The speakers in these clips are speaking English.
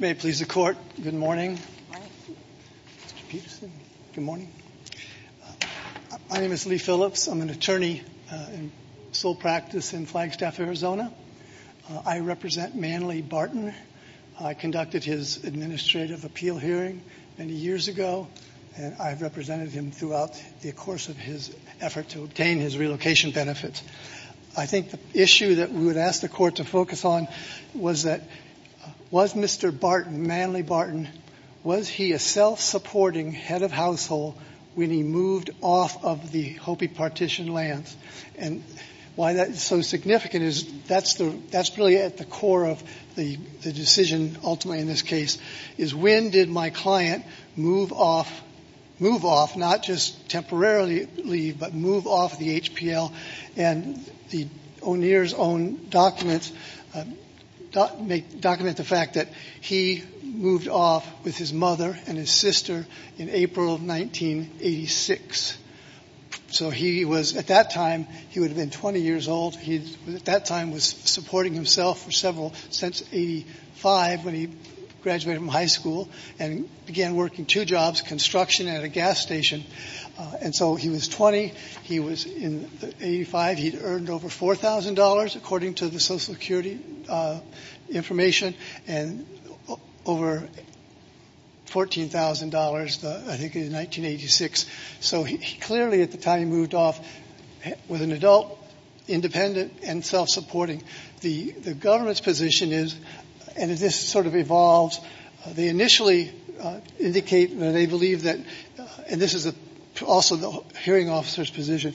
My name is Lee Phillips. I'm an attorney in sole practice in Flagstaff, Arizona. I represent Manley Barton. I conducted his administrative appeal hearing many years ago, and I've represented him throughout the course of his effort to obtain his relocation benefits. I think the question I would ask the Court to focus on was that, was Mr. Barton, Manley Barton, was he a self-supporting head of household when he moved off of the Hopi Partition lands? And why that is so significant is that's really at the core of the decision ultimately in this case, is when did my client move off, move off, not just temporarily leave, but the O'Neill's own documents document the fact that he moved off with his mother and his sister in April of 1986. So he was, at that time, he would have been 20 years old. He at that time was supporting himself for several, since 85 when he graduated from high school and began working two jobs, construction at a gas station. And so he was 20, he was in earned over $4,000, according to the Social Security information, and over $14,000, I think, in 1986. So he clearly at the time moved off with an adult, independent, and self-supporting. The government's position is, and this sort of evolves, they initially indicate that they believe that, and this is also the hearing officer's position,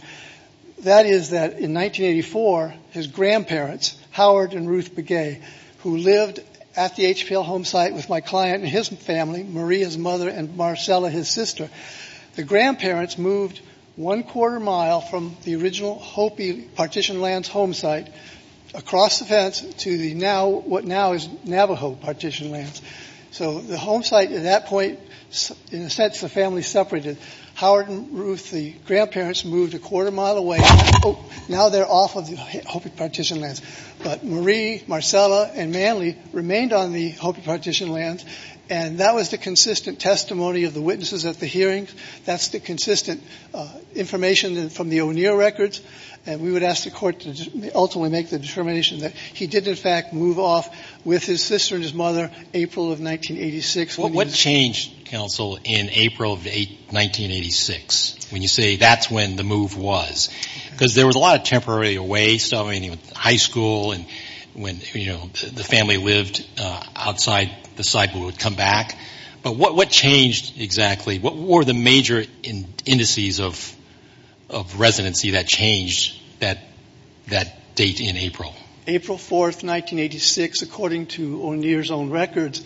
that is that in 1984, his grandparents, Howard and Ruth Begay, who lived at the HPL home site with my client and his family, Maria's mother and Marcella, his sister, the grandparents moved one quarter mile from the original Hopi Partition Lands home site across the fence to what now is Navajo Partition Lands. So the home site at that point, in a sense the family separated. Howard and Ruth, the grandparents, moved a quarter mile away. Oh, now they're off of the Hopi Partition Lands. But Maria, Marcella, and Manley remained on the Hopi Partition Lands. And that was the consistent testimony of the witnesses at the hearings. That's the consistent information from the O'Neill records. And we would ask the Court to ultimately make the determination that he did, in fact, move off with his sister and his mother April of 1986. What changed, counsel, in April of 1986, when you say that's when the move was? Because there was a lot of temporary waste. I mean, high school and when, you know, the family lived outside the site, but would come back. But what changed exactly? What were the major changes? April 4, 1986, according to O'Neill's own records,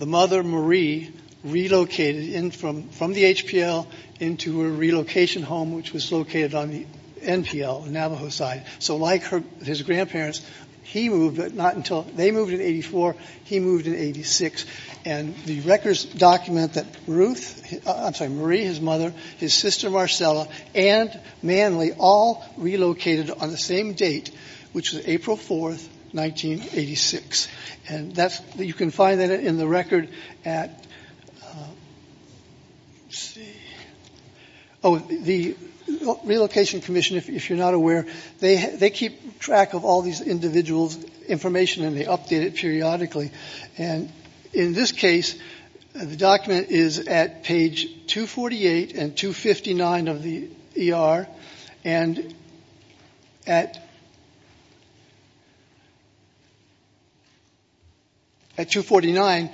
the mother, Marie, relocated from the HPL into a relocation home, which was located on the NPL, the Navajo side. So like his grandparents, he moved, but not until they moved in 84, he moved in 86. And the records document that Ruth, I'm sorry, Marie, his mother, his sister, Marcella, and Manley all relocated on the same date, which was April 4, 1986. And that's, you can find that in the record at, let's see, oh, the Relocation Commission, if you're not aware, they keep track of all these individuals' information and they update it periodically. And in this case, the document is at page 248 and 259 of the ER. And at 249,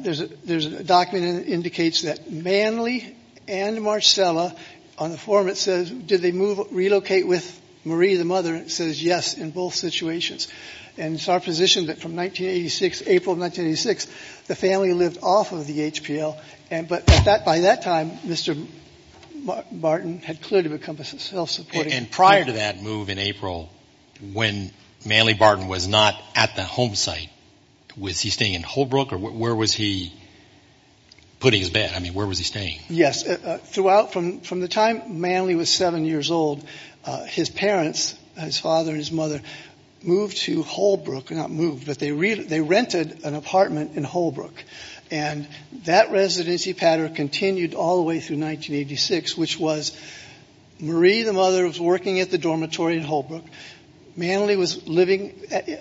there's a document that indicates that Manley and Marcella, on the form it says, did they relocate with Marie, the mother? And it says yes in both situations. And it's our position that from 1986, April of 1986, the family lived off of the HPL. But by that time, Mr. Barton had clearly become a self-supporting priority. And prior to that move in April, when Manley Barton was not at the home site, was he staying in Holbrook or where was he putting his bed? I mean, where was he staying? Yes. From the time Manley was seven years old, his parents, his father and his mother, moved to Holbrook, not moved, but they rented an apartment in Holbrook. And that residency pattern continued all the way through 1986, which was Marie, the mother, was working at the dormitory in Holbrook. Manley was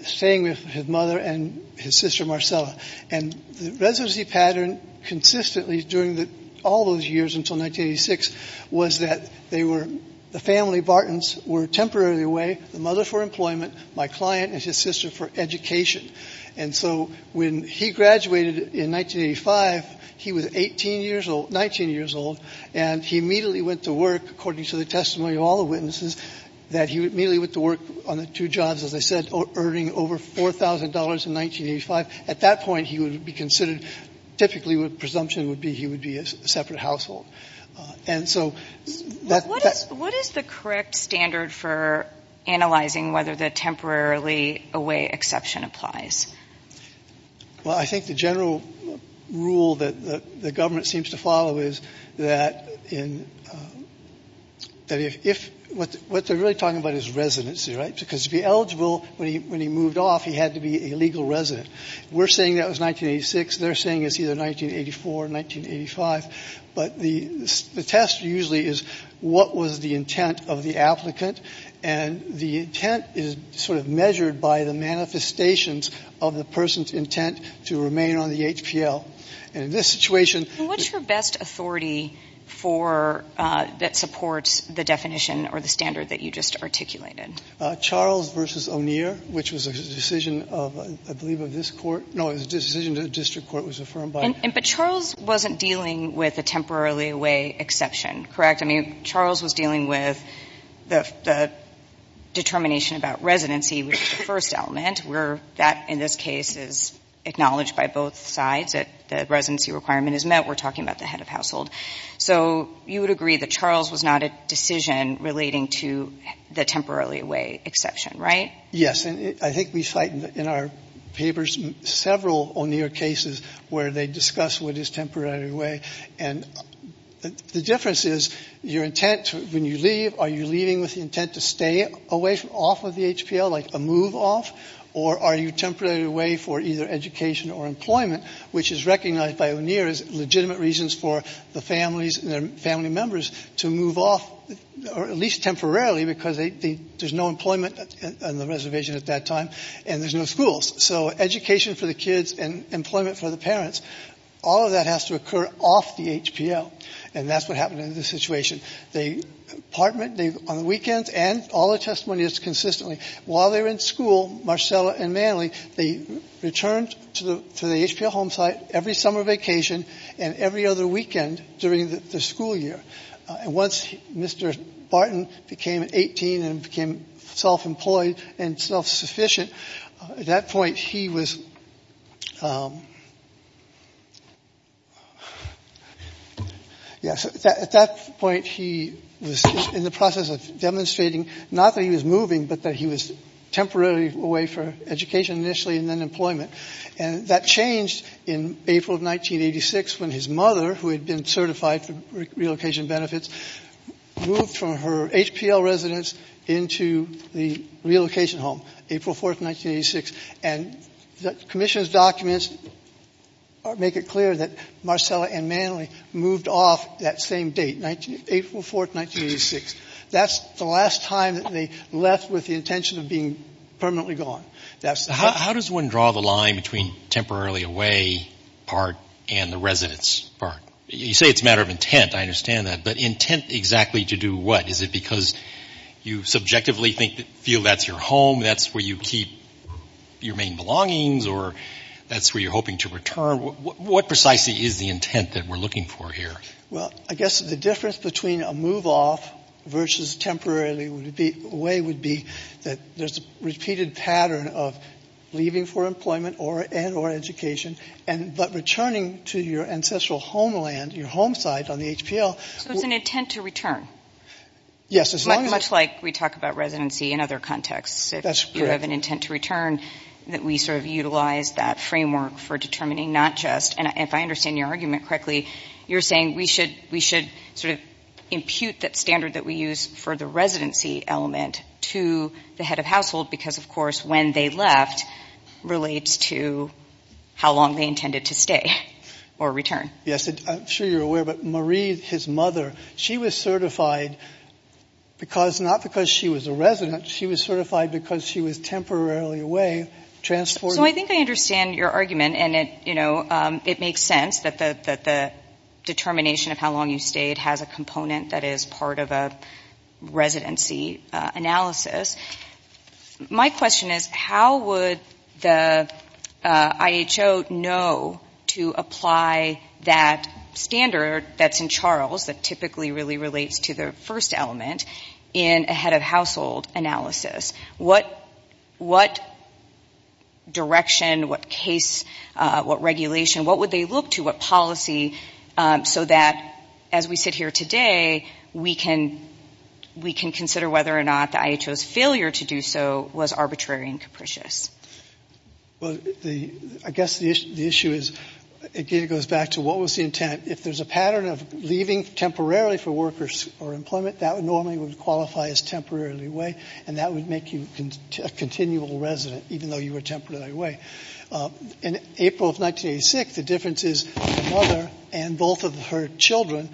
staying with his mother and his sister, Marcella. And the residency pattern consistently during all those years until 1986 was that the family of Bartons were temporarily away, the mother for employment, my client and his sister for education. And so when he graduated in 1985, he was 18 years old, 19 years old, and he immediately went to work, according to the testimony of all the witnesses, that he immediately went to work on the two jobs, as I said, earning over $4,000 in 1985. At that point, he would be considered, typically the presumption would be he would be a separate household. And so that What is the correct standard for analyzing whether the temporarily away exception applies? Well, I think the general rule that the government seems to follow is that if, what they're really talking about is residency, right? Because to be eligible, when he moved off, he had to be a legal resident. We're saying that was 1986. They're saying it's either The test usually is, what was the intent of the applicant? And the intent is sort of measured by the manifestations of the person's intent to remain on the HPL. And in this situation And what's your best authority for, that supports the definition or the standard that you just articulated? Charles versus O'Neill, which was a decision of, I believe, of this court. No, it was a decision that the district court was affirmed by But Charles wasn't dealing with a temporarily away exception, correct? I mean, Charles was dealing with the determination about residency, which is the first element, where that, in this case, is acknowledged by both sides, that the residency requirement is met. We're talking about the head of household. So you would agree that Charles was not a decision relating to the temporarily away exception, right? Yes. And I think we cite in our papers several O'Neill cases where they discuss what is temporarily away. And the difference is, your intent, when you leave, are you leaving with the intent to stay away, off of the HPL, like a move off? Or are you temporarily away for either education or employment, which is recognized by O'Neill as legitimate reasons for the families and their family members to move off, or at least temporarily, because there's no employment on the reservation at that time, and there's no schools. So education for the kids and employment for the parents, all of that has to occur off the HPL. And that's what happened in this situation. The apartment, on the weekends, and all the testimonials consistently, while they were in school, Marcella and Manley, they returned to the HPL home site every summer vacation and every other weekend during the school year. And once Mr. Barton became 18 and became self-employed and self-sufficient, at that point he was in the process of demonstrating, not that he was moving, but that he was temporarily away for education initially and then employment. And that changed in April of 1986 when his relocation benefits moved from her HPL residence into the relocation home, April 4th, 1986. And the commission's documents make it clear that Marcella and Manley moved off that same date, April 4th, 1986. That's the last time that they left with the intention of being permanently gone. How does one draw the line between temporarily away part and the residence part? You say it's a matter of intent. I understand that. But intent exactly to do what? Is it because you subjectively feel that's your home, that's where you keep your main belongings, or that's where you're hoping to return? What precisely is the intent that we're looking for here? Well, I guess the difference between a move off versus temporarily away would be that there's a repeated pattern of leaving for employment and or education, but returning to your ancestral homeland, your home site on the HPL. So it's an intent to return? Yes. Much like we talk about residency in other contexts. If you have an intent to return, that we sort of utilize that framework for determining not just, and if I understand your argument correctly, you're saying we should sort of impute that standard that we use for the residency element to the head of household because, of course, when they decided to stay or return. Yes. I'm sure you're aware, but Marie, his mother, she was certified because, not because she was a resident, she was certified because she was temporarily away, transporting. So I think I understand your argument, and it makes sense that the determination of how long you stayed has a component that is part of a residency analysis. My question is, how would the IHO know to apply that standard that's in Charles that typically really relates to the first element in a head of household analysis? What direction, what case, what regulation, what would they look to, what policy, so that as we sit here today, we can consider whether or not the IHO's failure to do so was arbitrary and capricious? I guess the issue is, again, it goes back to what was the intent. If there's a pattern of leaving temporarily for workers or employment, that normally would qualify as temporarily away, and that would make you a continual resident, even though you were temporarily away. In April of 1986, the difference is the mother and both of her children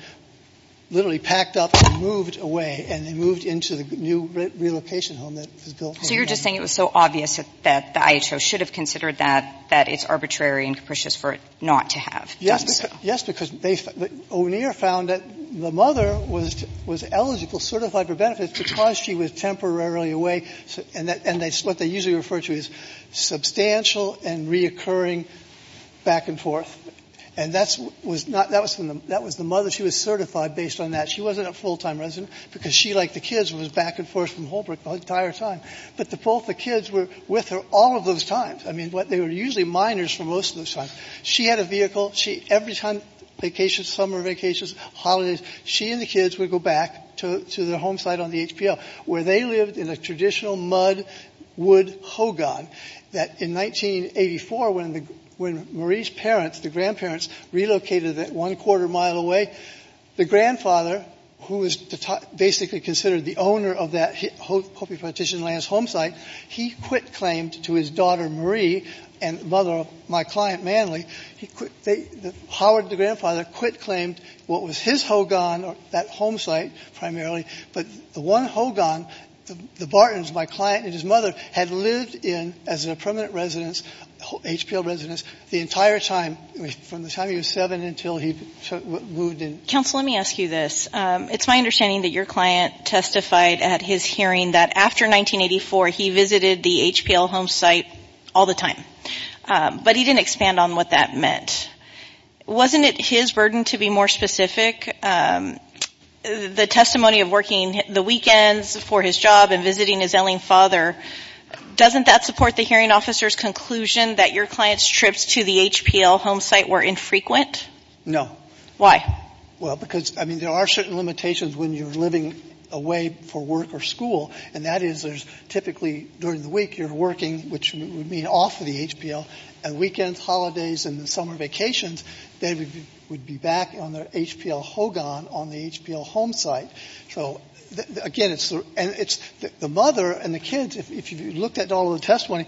literally packed up and moved away, and they moved into the new relocation home that was built. So you're just saying it was so obvious that the IHO should have considered that, that it's arbitrary and capricious for it not to have done so. Yes, because they found that O'Neill found that the mother was eligible, certified for benefits, because she was temporarily away, and that's what they usually refer to as substantial and reoccurring back and forth. And that was not the mother. She was certified based on that. She wasn't a full-time resident, because she, like the kids, was back and forth from Holbrook the entire time. But both the kids were with her all of those times. I mean, they were usually minors for most of those times. She had a vehicle. Every time vacations, summer vacations, holidays, she and the kids would go back to their home site on the HPL, where they lived in a traditional mud wood hogan that in 1984, when Marie's parents, the grandparents, relocated it one quarter mile away, the grandfather, who was basically considered the owner of that Hopi petition lands home site, he quit-claimed to his daughter Marie and mother of my client, Manly. Howard, the grandfather, quit-claimed what was his hogan, that home site primarily, but the one hogan, the Bartons, my client and his mother, had lived in as a permanent residence, HPL residence, the entire time, from the time he was seven until he moved in. Counsel, let me ask you this. It's my understanding that your client testified at his hearing that after 1984, he visited the HPL home site all the time. But he didn't expand on what that meant. Wasn't it his burden to be more specific? The testimony of working the weekends for his job and visiting his yelling father, doesn't that support the hearing officer's conclusion that your client's trips to the HPL home site were infrequent? No. Why? Well, because, I mean, there are certain limitations when you're living away for work or school, and that is there's typically during the week you're working, which would mean off of the HPL, and weekends, holidays and summer vacations, they would be back on their hogan on the HPL home site. So, again, it's the mother and the kids, if you looked at all of the testimony,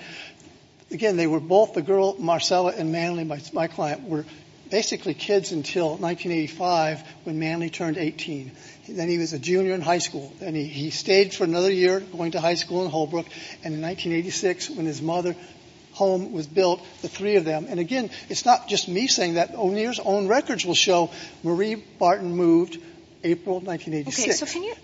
again, they were both, the girl, Marcella and Manley, my client, were basically kids until 1985 when Manley turned 18. Then he was a junior in high school. Then he stayed for another year, going to high school in Holbrook. And in 1986, when his mother's home was built, the three of them, and again, it's not just me saying that, O'Neill's own records will show Marie Barton moved April 1986. Okay, so can you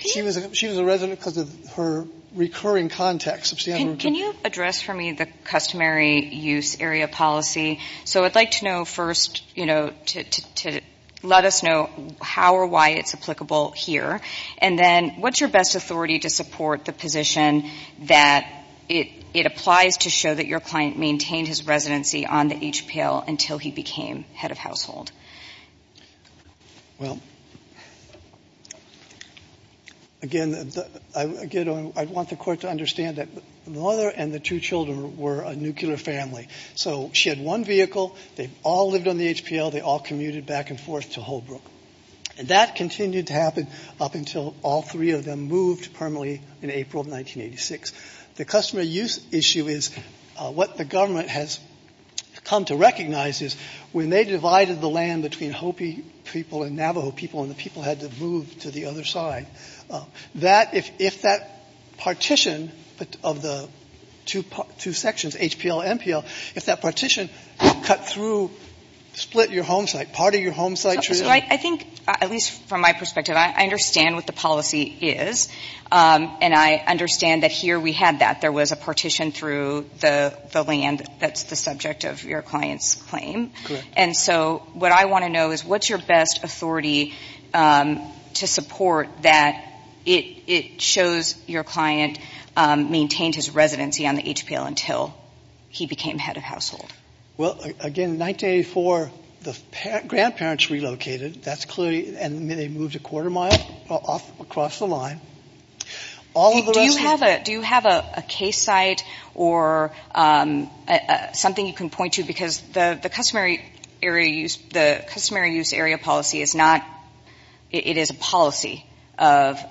She was a resident because of her recurring contacts. Can you address for me the customary use area policy? So I'd like to know first, you know, to let us know how or why it's applicable here, and then what's your best authority to support the position that it applies to show that your client maintained his residency on the HPL until he became head of household? Well, again, I want the court to understand that the mother and the two children were a nuclear family. So she had one vehicle. They all lived on the HPL. They all commuted back and forth to Holbrook. And that continued to happen up until all three of them moved permanently in April of 1986. The customary use issue is what the government has come to recognize is when they divided the land between Hopi people and Navajo people and the people had to move to the other side, that if that partition of the two sections, HPL and MPL, if that partition cut through, split your home site, part of your home site. So I think, at least from my perspective, I understand what the policy is. And I understand that here we had that. There was a partition through the land that's the subject of your client's claim. Correct. And so what I want to know is what's your best authority to support that it shows your client maintained his residency on the HPL until he became head of household? Well, again, in 1984, the grandparents relocated. And they moved a quarter mile across the line. Do you have a case site or something you can point to? Because the customary use area policy is not – it is a policy of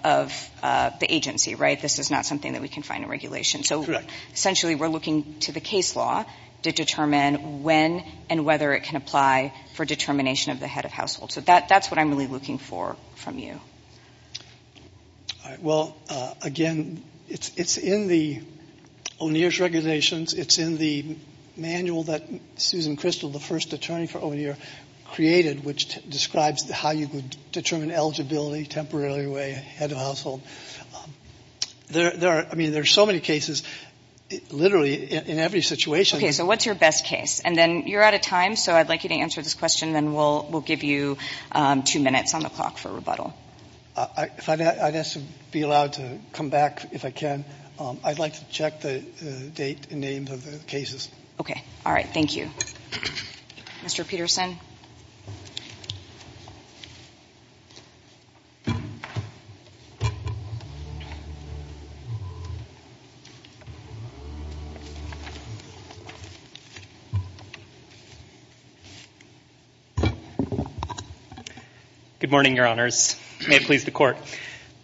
the agency, right? This is not something that we can find in regulation. Correct. So essentially we're looking to the case law to determine when and whether it can apply for determination of the head of household. So that's what I'm really looking for from you. All right. Well, again, it's in the O'Neill's regulations. It's in the manual that Susan Crystal, the first attorney for O'Neill, created, which describes how you would determine eligibility temporarily to a head of household. I mean, there are so many cases, literally in every situation. Okay. So what's your best case? And then you're out of time, so I'd like you to answer this question, and then we'll give you two minutes on the clock for rebuttal. If I may, I'd ask to be allowed to come back if I can. I'd like to check the date and name of the cases. Okay. All right. Thank you. Mr. Peterson. Good morning, Your Honors. May it please the Court.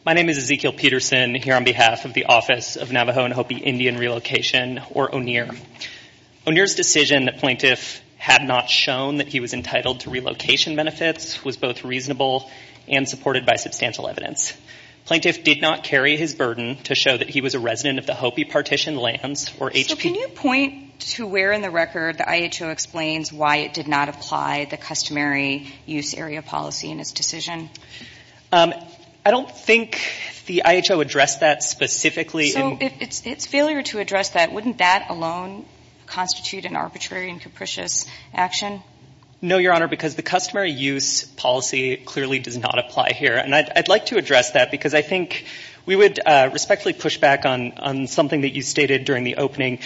My name is Ezekiel Peterson, here on behalf of the Office of Navajo O'Neill's decision that plaintiff had not shown that he was entitled to relocation benefits was both reasonable and supported by substantial evidence. Plaintiff did not carry his burden to show that he was a resident of the Hopi partition lands or HP. So can you point to where in the record the IHO explains why it did not apply the customary use area policy in its decision? I don't think the IHO addressed that specifically. So its failure to address that, wouldn't that alone constitute an arbitrary and capricious action? No, Your Honor, because the customary use policy clearly does not apply here, and I'd like to address that because I think we would respectfully push back on something that you stated during the opening.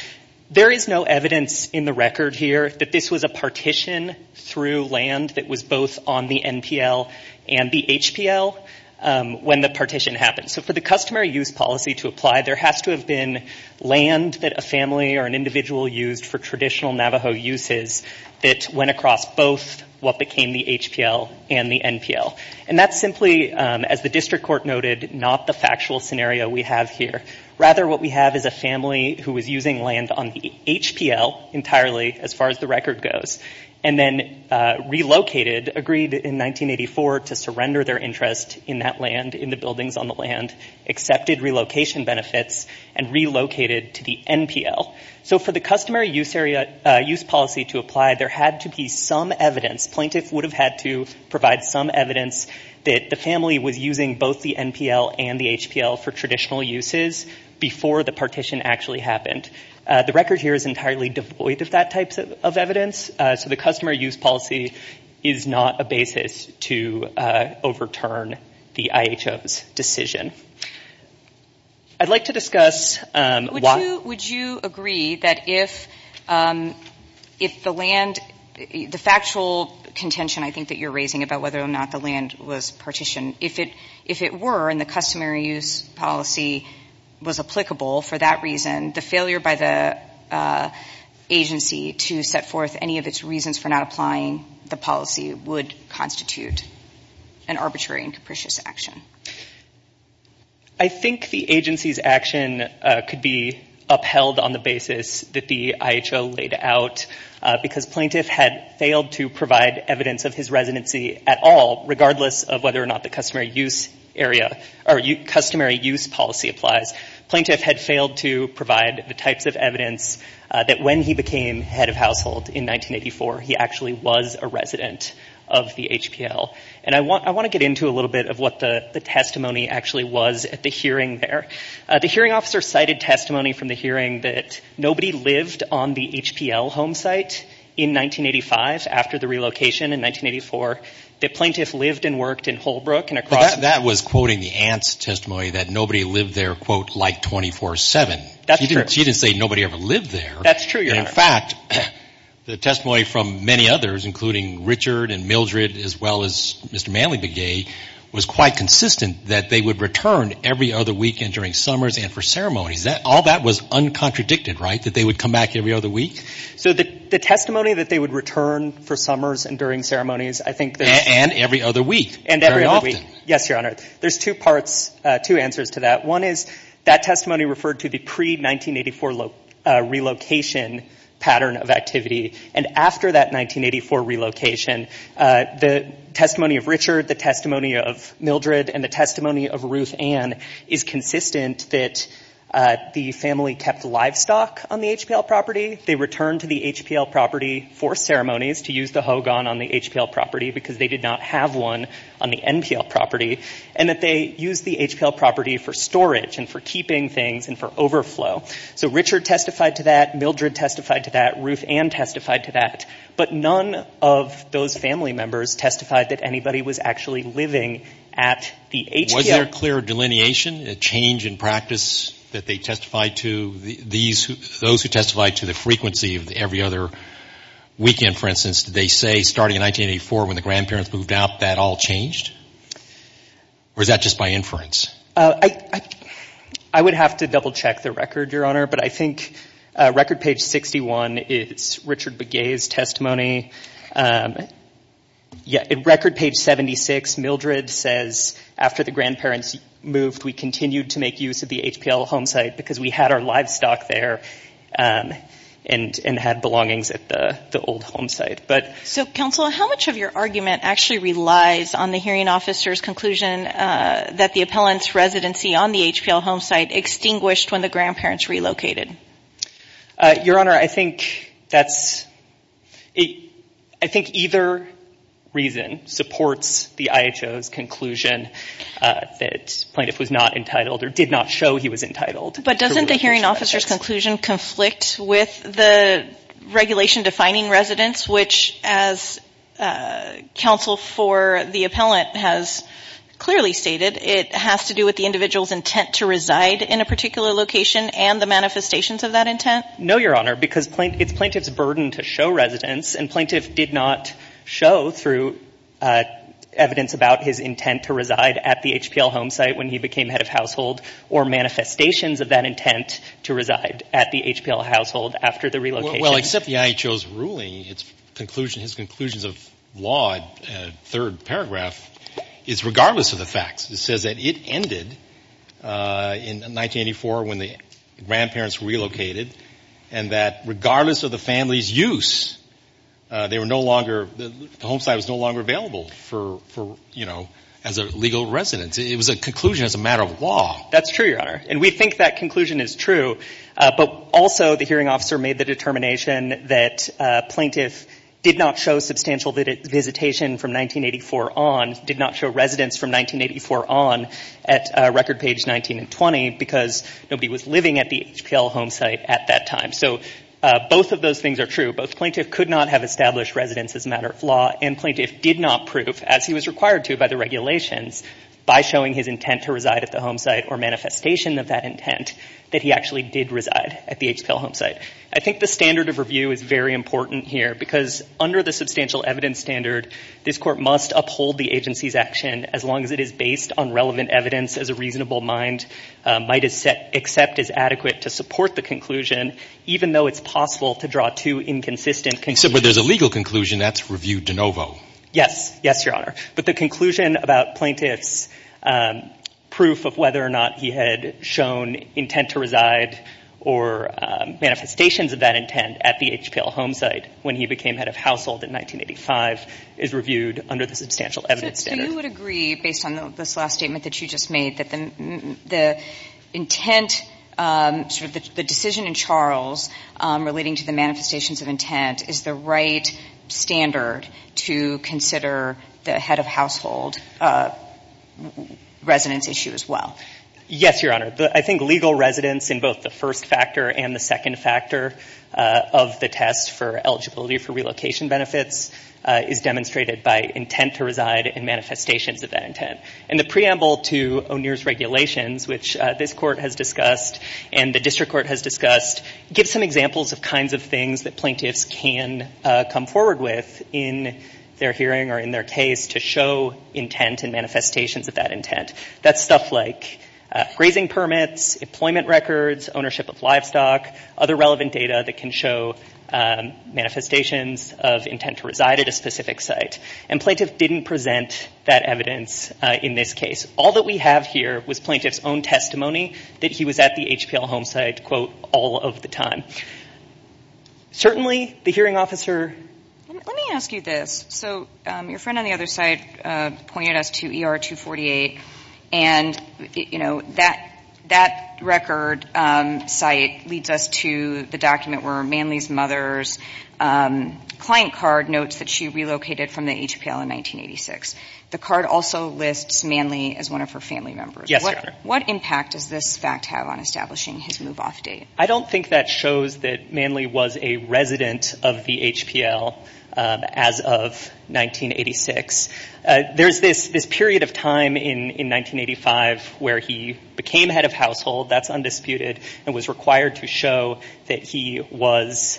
There is no evidence in the record here that this was a partition through land that was both on the NPL and the HPL when the partition happened. So for the customary use policy to apply, there has to have been land that a family or an individual used for traditional Navajo uses that went across both what became the HPL and the NPL. And that's simply, as the district court noted, not the factual scenario we have here. Rather, what we have is a family who was using land on the HPL entirely, as far as the record goes, and then relocated, agreed in 1984 to surrender their interest in that land, in the buildings on the land, accepted relocation benefits, and relocated to the NPL. So for the customary use policy to apply, there had to be some evidence, plaintiffs would have had to provide some evidence, that the family was using both the NPL and the HPL for traditional uses before the partition actually happened. The record here is entirely devoid of that type of evidence. So the customary use policy is not a basis to overturn the IHO's decision. I'd like to discuss why... Would you agree that if the land, the factual contention I think that you're raising about whether or not the land was partitioned, if it were, and the customary use policy was applicable for that reason, the failure by the agency to set forth any of its reasons for not applying the policy would constitute an arbitrary and capricious action? I think the agency's action could be upheld on the basis that the IHO laid out, because plaintiff had failed to provide evidence of his residency at all, regardless of whether or not the customary use area, or customary use policy applies. Plaintiff had failed to provide the types of evidence that when he became head of household in 1984, he actually was a resident of the HPL. And I want to get into a little bit of what the testimony actually was at the hearing there. The hearing officer cited testimony from the hearing that nobody lived on the HPL home site in 1985 after the relocation in 1984. The plaintiff lived and worked in Holbrook and across... But that was quoting the aunt's testimony that nobody lived there, quote, like 24-7. That's true. She didn't say nobody ever lived there. That's true, Your Honor. In fact, the testimony from many others, including Richard and Mildred, as well as Mr. Manley Begay, was quite consistent that they would return every other weekend during summers and for ceremonies. All that was uncontradicted, right, that they would come back every other week? So the testimony that they would return for summers and during ceremonies, I think... And every other week, very often. Yes, Your Honor. There's two parts, two answers to that. One is that testimony referred to the pre-1984 relocation pattern of activity. And after that 1984 relocation, the testimony of Richard, the testimony of Mildred, and the testimony of Ruth Ann is consistent that the family kept livestock on the HPL property. They returned to the HPL property for ceremonies to use the hogan on the HPL property because they did not have one on the NPL property. And that they used the HPL property for storage and for keeping things and for overflow. So Richard testified to that. Mildred testified to that. Ruth Ann testified to that. But none of those family members testified that anybody was actually living at the HPL... Was there clear delineation, a change in practice that they testified to? Those who testified to the frequency of every other weekend, for instance, did they say starting in 1984 when the grandparents moved out, that all changed? Or is that just by inference? I would have to double check the record, Your Honor. But I think record page 61 is Richard Begay's testimony. Record page 76, Mildred says, after the grandparents moved, we continued to make use of the HPL home site because we had our livestock there and had belongings at the old home site. So, counsel, how much of your argument actually relies on the hearing officer's conclusion that the appellant's residency on the HPL home site extinguished when the grandparents relocated? Your Honor, I think that's... I think either reason supports the IHO's conclusion that plaintiff was not entitled or did not show he was entitled. But doesn't the hearing officer's conclusion conflict with the regulation defining residence, which, as counsel for the appellant has clearly stated, it has to do with the individual's intent to reside in a particular location and the manifestations of that intent? No, Your Honor, because it's plaintiff's burden to show residence, and plaintiff did not show through evidence about his intent to reside at the HPL home site when he became head of household or manifestations of that intent to reside at the HPL household after the relocation. Well, except the IHO's ruling, its conclusion, his conclusions of law, third paragraph, is regardless of the facts. It says that it ended in 1984 when the grandparents relocated and that regardless of the family's use, they were no longer, the home site was no longer available for, you know, as a legal residence. It was a conclusion as a matter of law. That's true, Your Honor. And we think that conclusion is true, but also the hearing officer made the determination that plaintiff did not show substantial visitation from 1984 on, did not show residence from 1984 on at record page 19 and 20 because nobody was living at the HPL home site at that time. So both of those things are true. Both plaintiff could not have established residence as a matter of law and plaintiff did not prove, as he was required to by the regulations, by showing his intent to reside at the home site or manifestation of that intent that he actually did reside at the HPL home site. But I think the standard of review is very important here because under the substantial evidence standard, this court must uphold the agency's action as long as it is based on relevant evidence as a reasonable mind might accept as adequate to support the conclusion even though it's possible to draw two inconsistent conclusions. Except where there's a legal conclusion, that's review de novo. Yes. Yes, Your Honor. But the conclusion about plaintiff's proof of whether or not he had shown intent to reside or manifestations of that intent at the HPL home site when he became head of household in 1985 is reviewed under the substantial evidence standard. So you would agree, based on this last statement that you just made, that the intent, the decision in Charles relating to the manifestations of intent is the right standard to consider the head of household residence issue as well? Yes, Your Honor. I think legal residence in both the first factor and the second factor of the test for eligibility for relocation benefits is demonstrated by intent to reside and manifestations of that intent. And the preamble to O'Neill's regulations, which this court has discussed and the district court has discussed, gives some examples of kinds of things that plaintiffs can come forward with in their hearing or in their case to show intent and manifestations of that intent. That's stuff like grazing permits, employment records, ownership of livestock, other relevant data that can show manifestations of intent to reside at a specific site. And plaintiff didn't present that evidence in this case. All that we have here was plaintiff's own testimony that he was at the HPL home site, quote, all of the time. Certainly, the hearing officer... The card also lists Manley as one of her family members. Yes, Your Honor. What impact does this fact have on establishing his move-off date? I don't think that shows that Manley was a resident of the HPL as of 1986. There's this period of time in 1985 where he became head of household. That's undisputed and was required to show that he was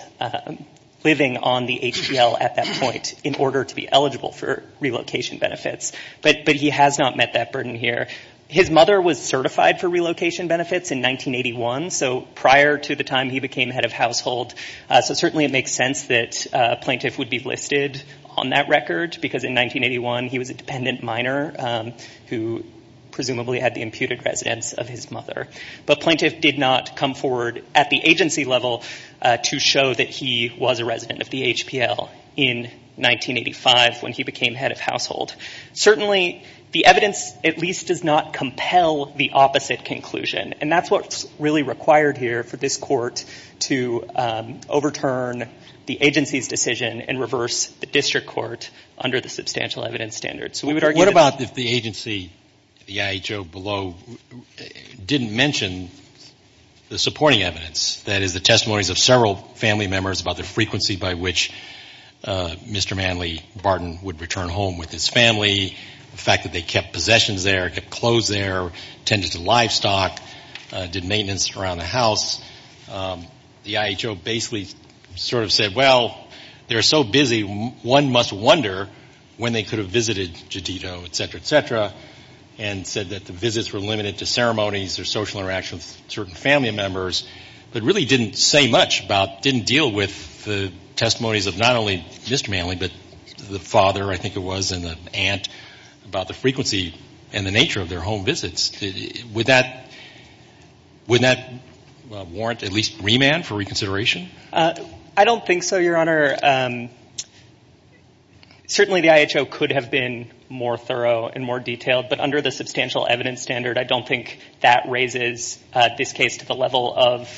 living on the HPL at that point in order to be eligible for relocation benefits. But he has not met that burden here. His mother was certified for relocation benefits in 1981, so prior to the time he became head of household. So certainly it makes sense that a plaintiff would be listed on that record because in 1981 he was a dependent minor who presumably had the imputed residence of his mother. But plaintiff did not come forward at the agency level to show that he was a resident of the HPL in 1985 when he became head of household. Certainly, the evidence at least does not compel the opposite conclusion. And that's what's really required here for this court to overturn the agency's decision and reverse the district court under the substantial evidence standard. What about if the agency, the IHO below, didn't mention the supporting evidence, that is the testimonies of several family members about the frequency by which Mr. Manley Barton would return home with his family, the fact that they kept possessions there, kept clothes there, tended to livestock, did maintenance around the house. The IHO basically sort of said, well, they're so busy, one must wonder when they could have visited Jadito, et cetera, et cetera, and said that the visits were limited to ceremonies or social interactions with certain family members, but really didn't say much about, didn't deal with the testimonies of not only Mr. Manley, but the father, I think it was, and the aunt about the frequency and the nature of their home visits. Would that warrant at least remand for reconsideration? I don't think so, Your Honor. Certainly, the IHO could have been more thorough and more detailed, but under the substantial evidence standard, I don't think that raises this case to the level of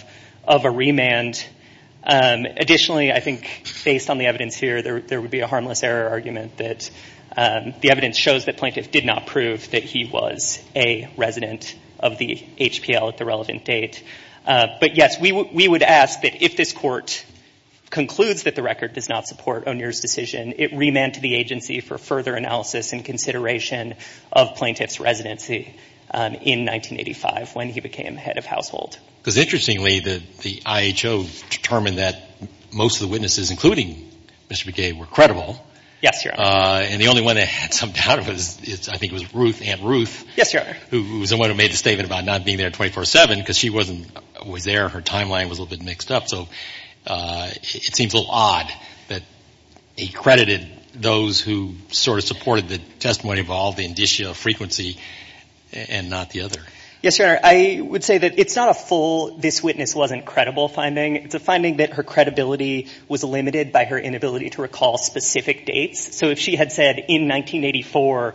a remand. Additionally, I think based on the evidence here, there would be a harmless error argument that the evidence shows that Plaintiff did not prove that he was a resident of the HPL at the relevant date. But yes, we would ask that if this Court concludes that the record does not support O'Neill's decision, it remand to the agency for further analysis and consideration of Plaintiff's residency in 1985 when he became head of household. Because interestingly, the IHO determined that most of the witnesses, including Mr. Begay, were credible. Yes, Your Honor. And the only one that had some doubt of it, I think it was Ruth, Aunt Ruth. Yes, Your Honor. Who was the one who made the statement about not being there 24-7 because she wasn't, was there, her timeline was a little bit mixed up. So it seems a little odd that he credited those who sort of supported the testimony of all the indicia of frequency and not the other. Yes, Your Honor. I would say that it's not a full this witness wasn't credible finding. It's a finding that her credibility was limited by her inability to recall specific dates. So if she had said in 1984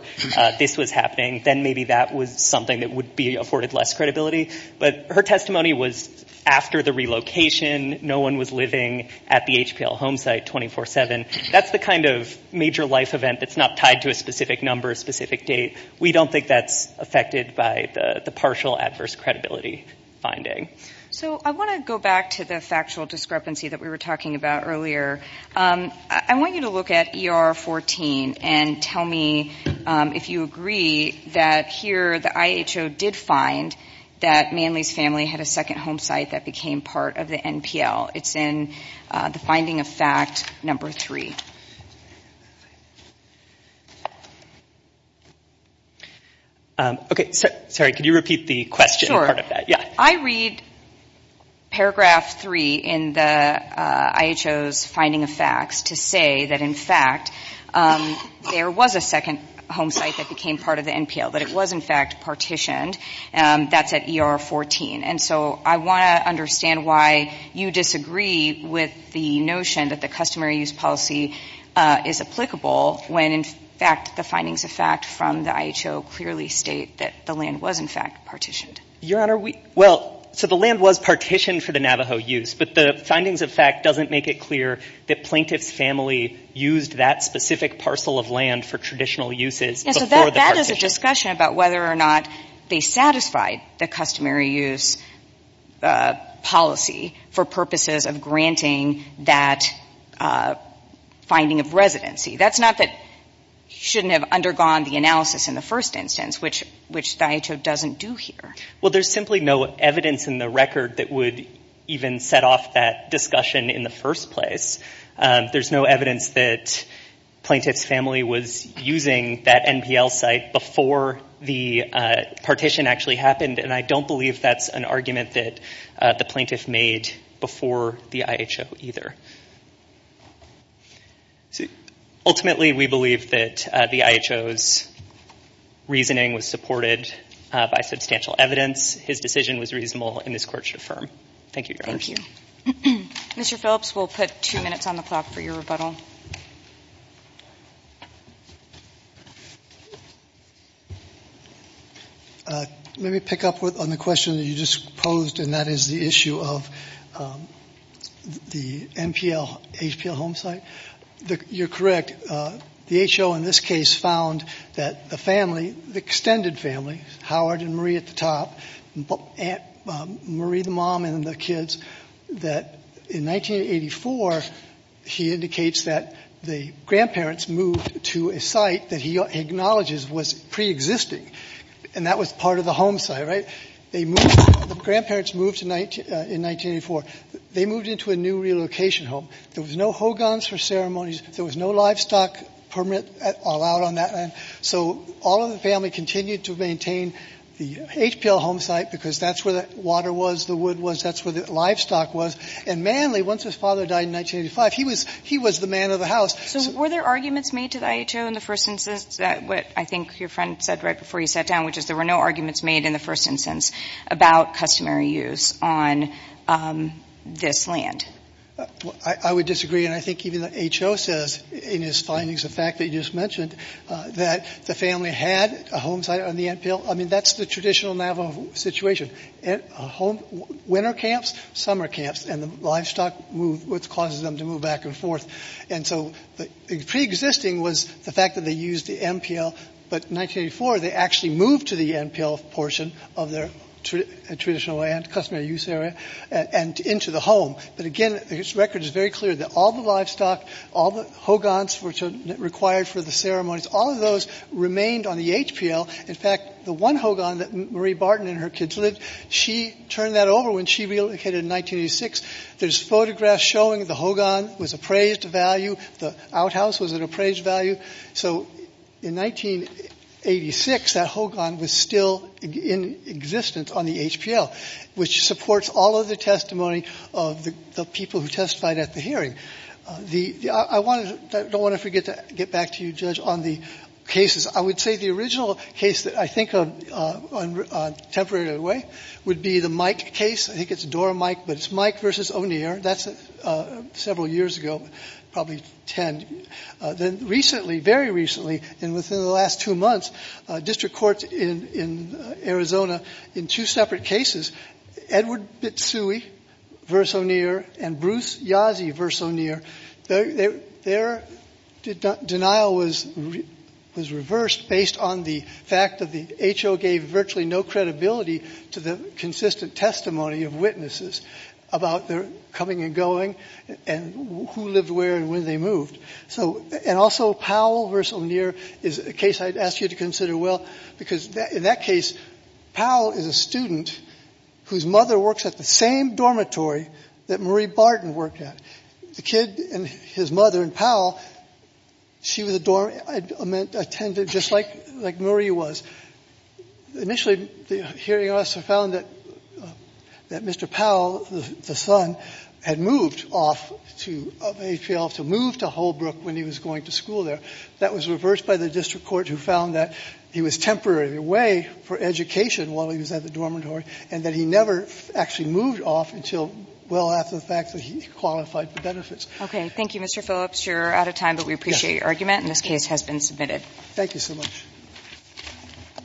this was happening, then maybe that was something that would be afforded less credibility. But her testimony was after the relocation. No one was living at the HPL home site 24-7. That's the kind of major life event that's not tied to a specific number, a specific date. We don't think that's affected by the partial adverse credibility finding. So I want to go back to the factual discrepancy that we were talking about earlier. I want you to look at ER 14 and tell me if you agree that here the IHO did find that Manley's family had a second home site that became part of the NPL. It's in the finding of fact number three. Okay. Sorry, could you repeat the question part of that? Sure. Yeah. I read paragraph three in the IHO's finding of facts to say that in fact there was a second home site that became part of the NPL, that it was in fact partitioned. That's at ER 14. And so I want to understand why you disagree with the notion that the customary use policy is applicable when, in fact, the findings of fact from the IHO clearly state that the land was, in fact, partitioned. Your Honor, well, so the land was partitioned for the Navajo use, but the findings of fact doesn't make it clear that plaintiff's family used that specific parcel of land for traditional uses before the partition. There was a discussion about whether or not they satisfied the customary use policy for purposes of granting that finding of residency. That's not that you shouldn't have undergone the analysis in the first instance, which the IHO doesn't do here. Well, there's simply no evidence in the record that would even set off that discussion in the first place. There's no evidence that plaintiff's family was using that NPL site before the partition actually happened, and I don't believe that's an argument that the plaintiff made before the IHO either. Ultimately, we believe that the IHO's reasoning was supported by substantial evidence. His decision was reasonable in this court to affirm. Thank you, Your Honor. Thank you. Mr. Phillips, we'll put two minutes on the clock for your rebuttal. Let me pick up on the question that you just posed, and that is the issue of the NPL, HPL home site. You're correct. The IHO in this case found that the family, the extended family, Howard and Marie at the top, Marie the mom and the kids, that in 1984, he indicates that the grandparents moved to a site that he acknowledges was preexisting, and that was part of the home site, right? The grandparents moved in 1984. They moved into a new relocation home. There was no hogans for ceremonies. There was no livestock permit allowed on that land. So all of the family continued to maintain the HPL home site because that's where the water was, the wood was, that's where the livestock was. And Manly, once his father died in 1985, he was the man of the house. So were there arguments made to the IHO in the first instance, what I think your friend said right before you sat down, which is there were no arguments made in the first instance about customary use on this land? I would disagree, and I think even the IHO says in his findings, the fact that you just mentioned, that the family had a home site on the MPL. I mean, that's the traditional Navajo situation, winter camps, summer camps, and the livestock moved, which causes them to move back and forth. And so preexisting was the fact that they used the MPL, but in 1984, they actually moved to the MPL portion of their traditional land, customary use area, and into the home. But again, his record is very clear that all the livestock, all the hogans required for the ceremonies, all of those remained on the HPL. In fact, the one hogan that Marie Barton and her kids lived, she turned that over when she relocated in 1986. There's photographs showing the hogan was appraised value, the outhouse was an appraised value. So in 1986, that hogan was still in existence on the HPL, which supports all of the testimony of the people who testified at the hearing. I don't want to forget to get back to you, Judge, on the cases. I would say the original case that I think of in a temporary way would be the Mike case. I think it's Dora Mike, but it's Mike versus O'Neill. That's several years ago, probably 10. Recently, very recently, and within the last two months, district courts in Arizona, in two separate cases, Edward Bitsui versus O'Neill and Bruce Yazzie versus O'Neill, their denial was reversed based on the fact that the HO gave virtually no credibility to the consistent testimony of witnesses about their coming and going and who lived where and when they moved. And also Powell versus O'Neill is a case I'd ask you to consider well, because in that case, Powell is a student whose mother works at the same dormitory that Marie Barton worked at. The kid and his mother and Powell, she was a dorm attendant just like Marie was. Initially, hearing us, we found that Mr. Powell, the son, had moved off of HPL to move to Holbrook when he was going to school there. That was reversed by the district court who found that he was temporarily away for education while he was at the dormitory and that he never actually moved off until well after the fact that he qualified for benefits. Okay. Thank you, Mr. Phillips. You're out of time, but we appreciate your argument, and this case has been submitted. Thank you so much. Thank you.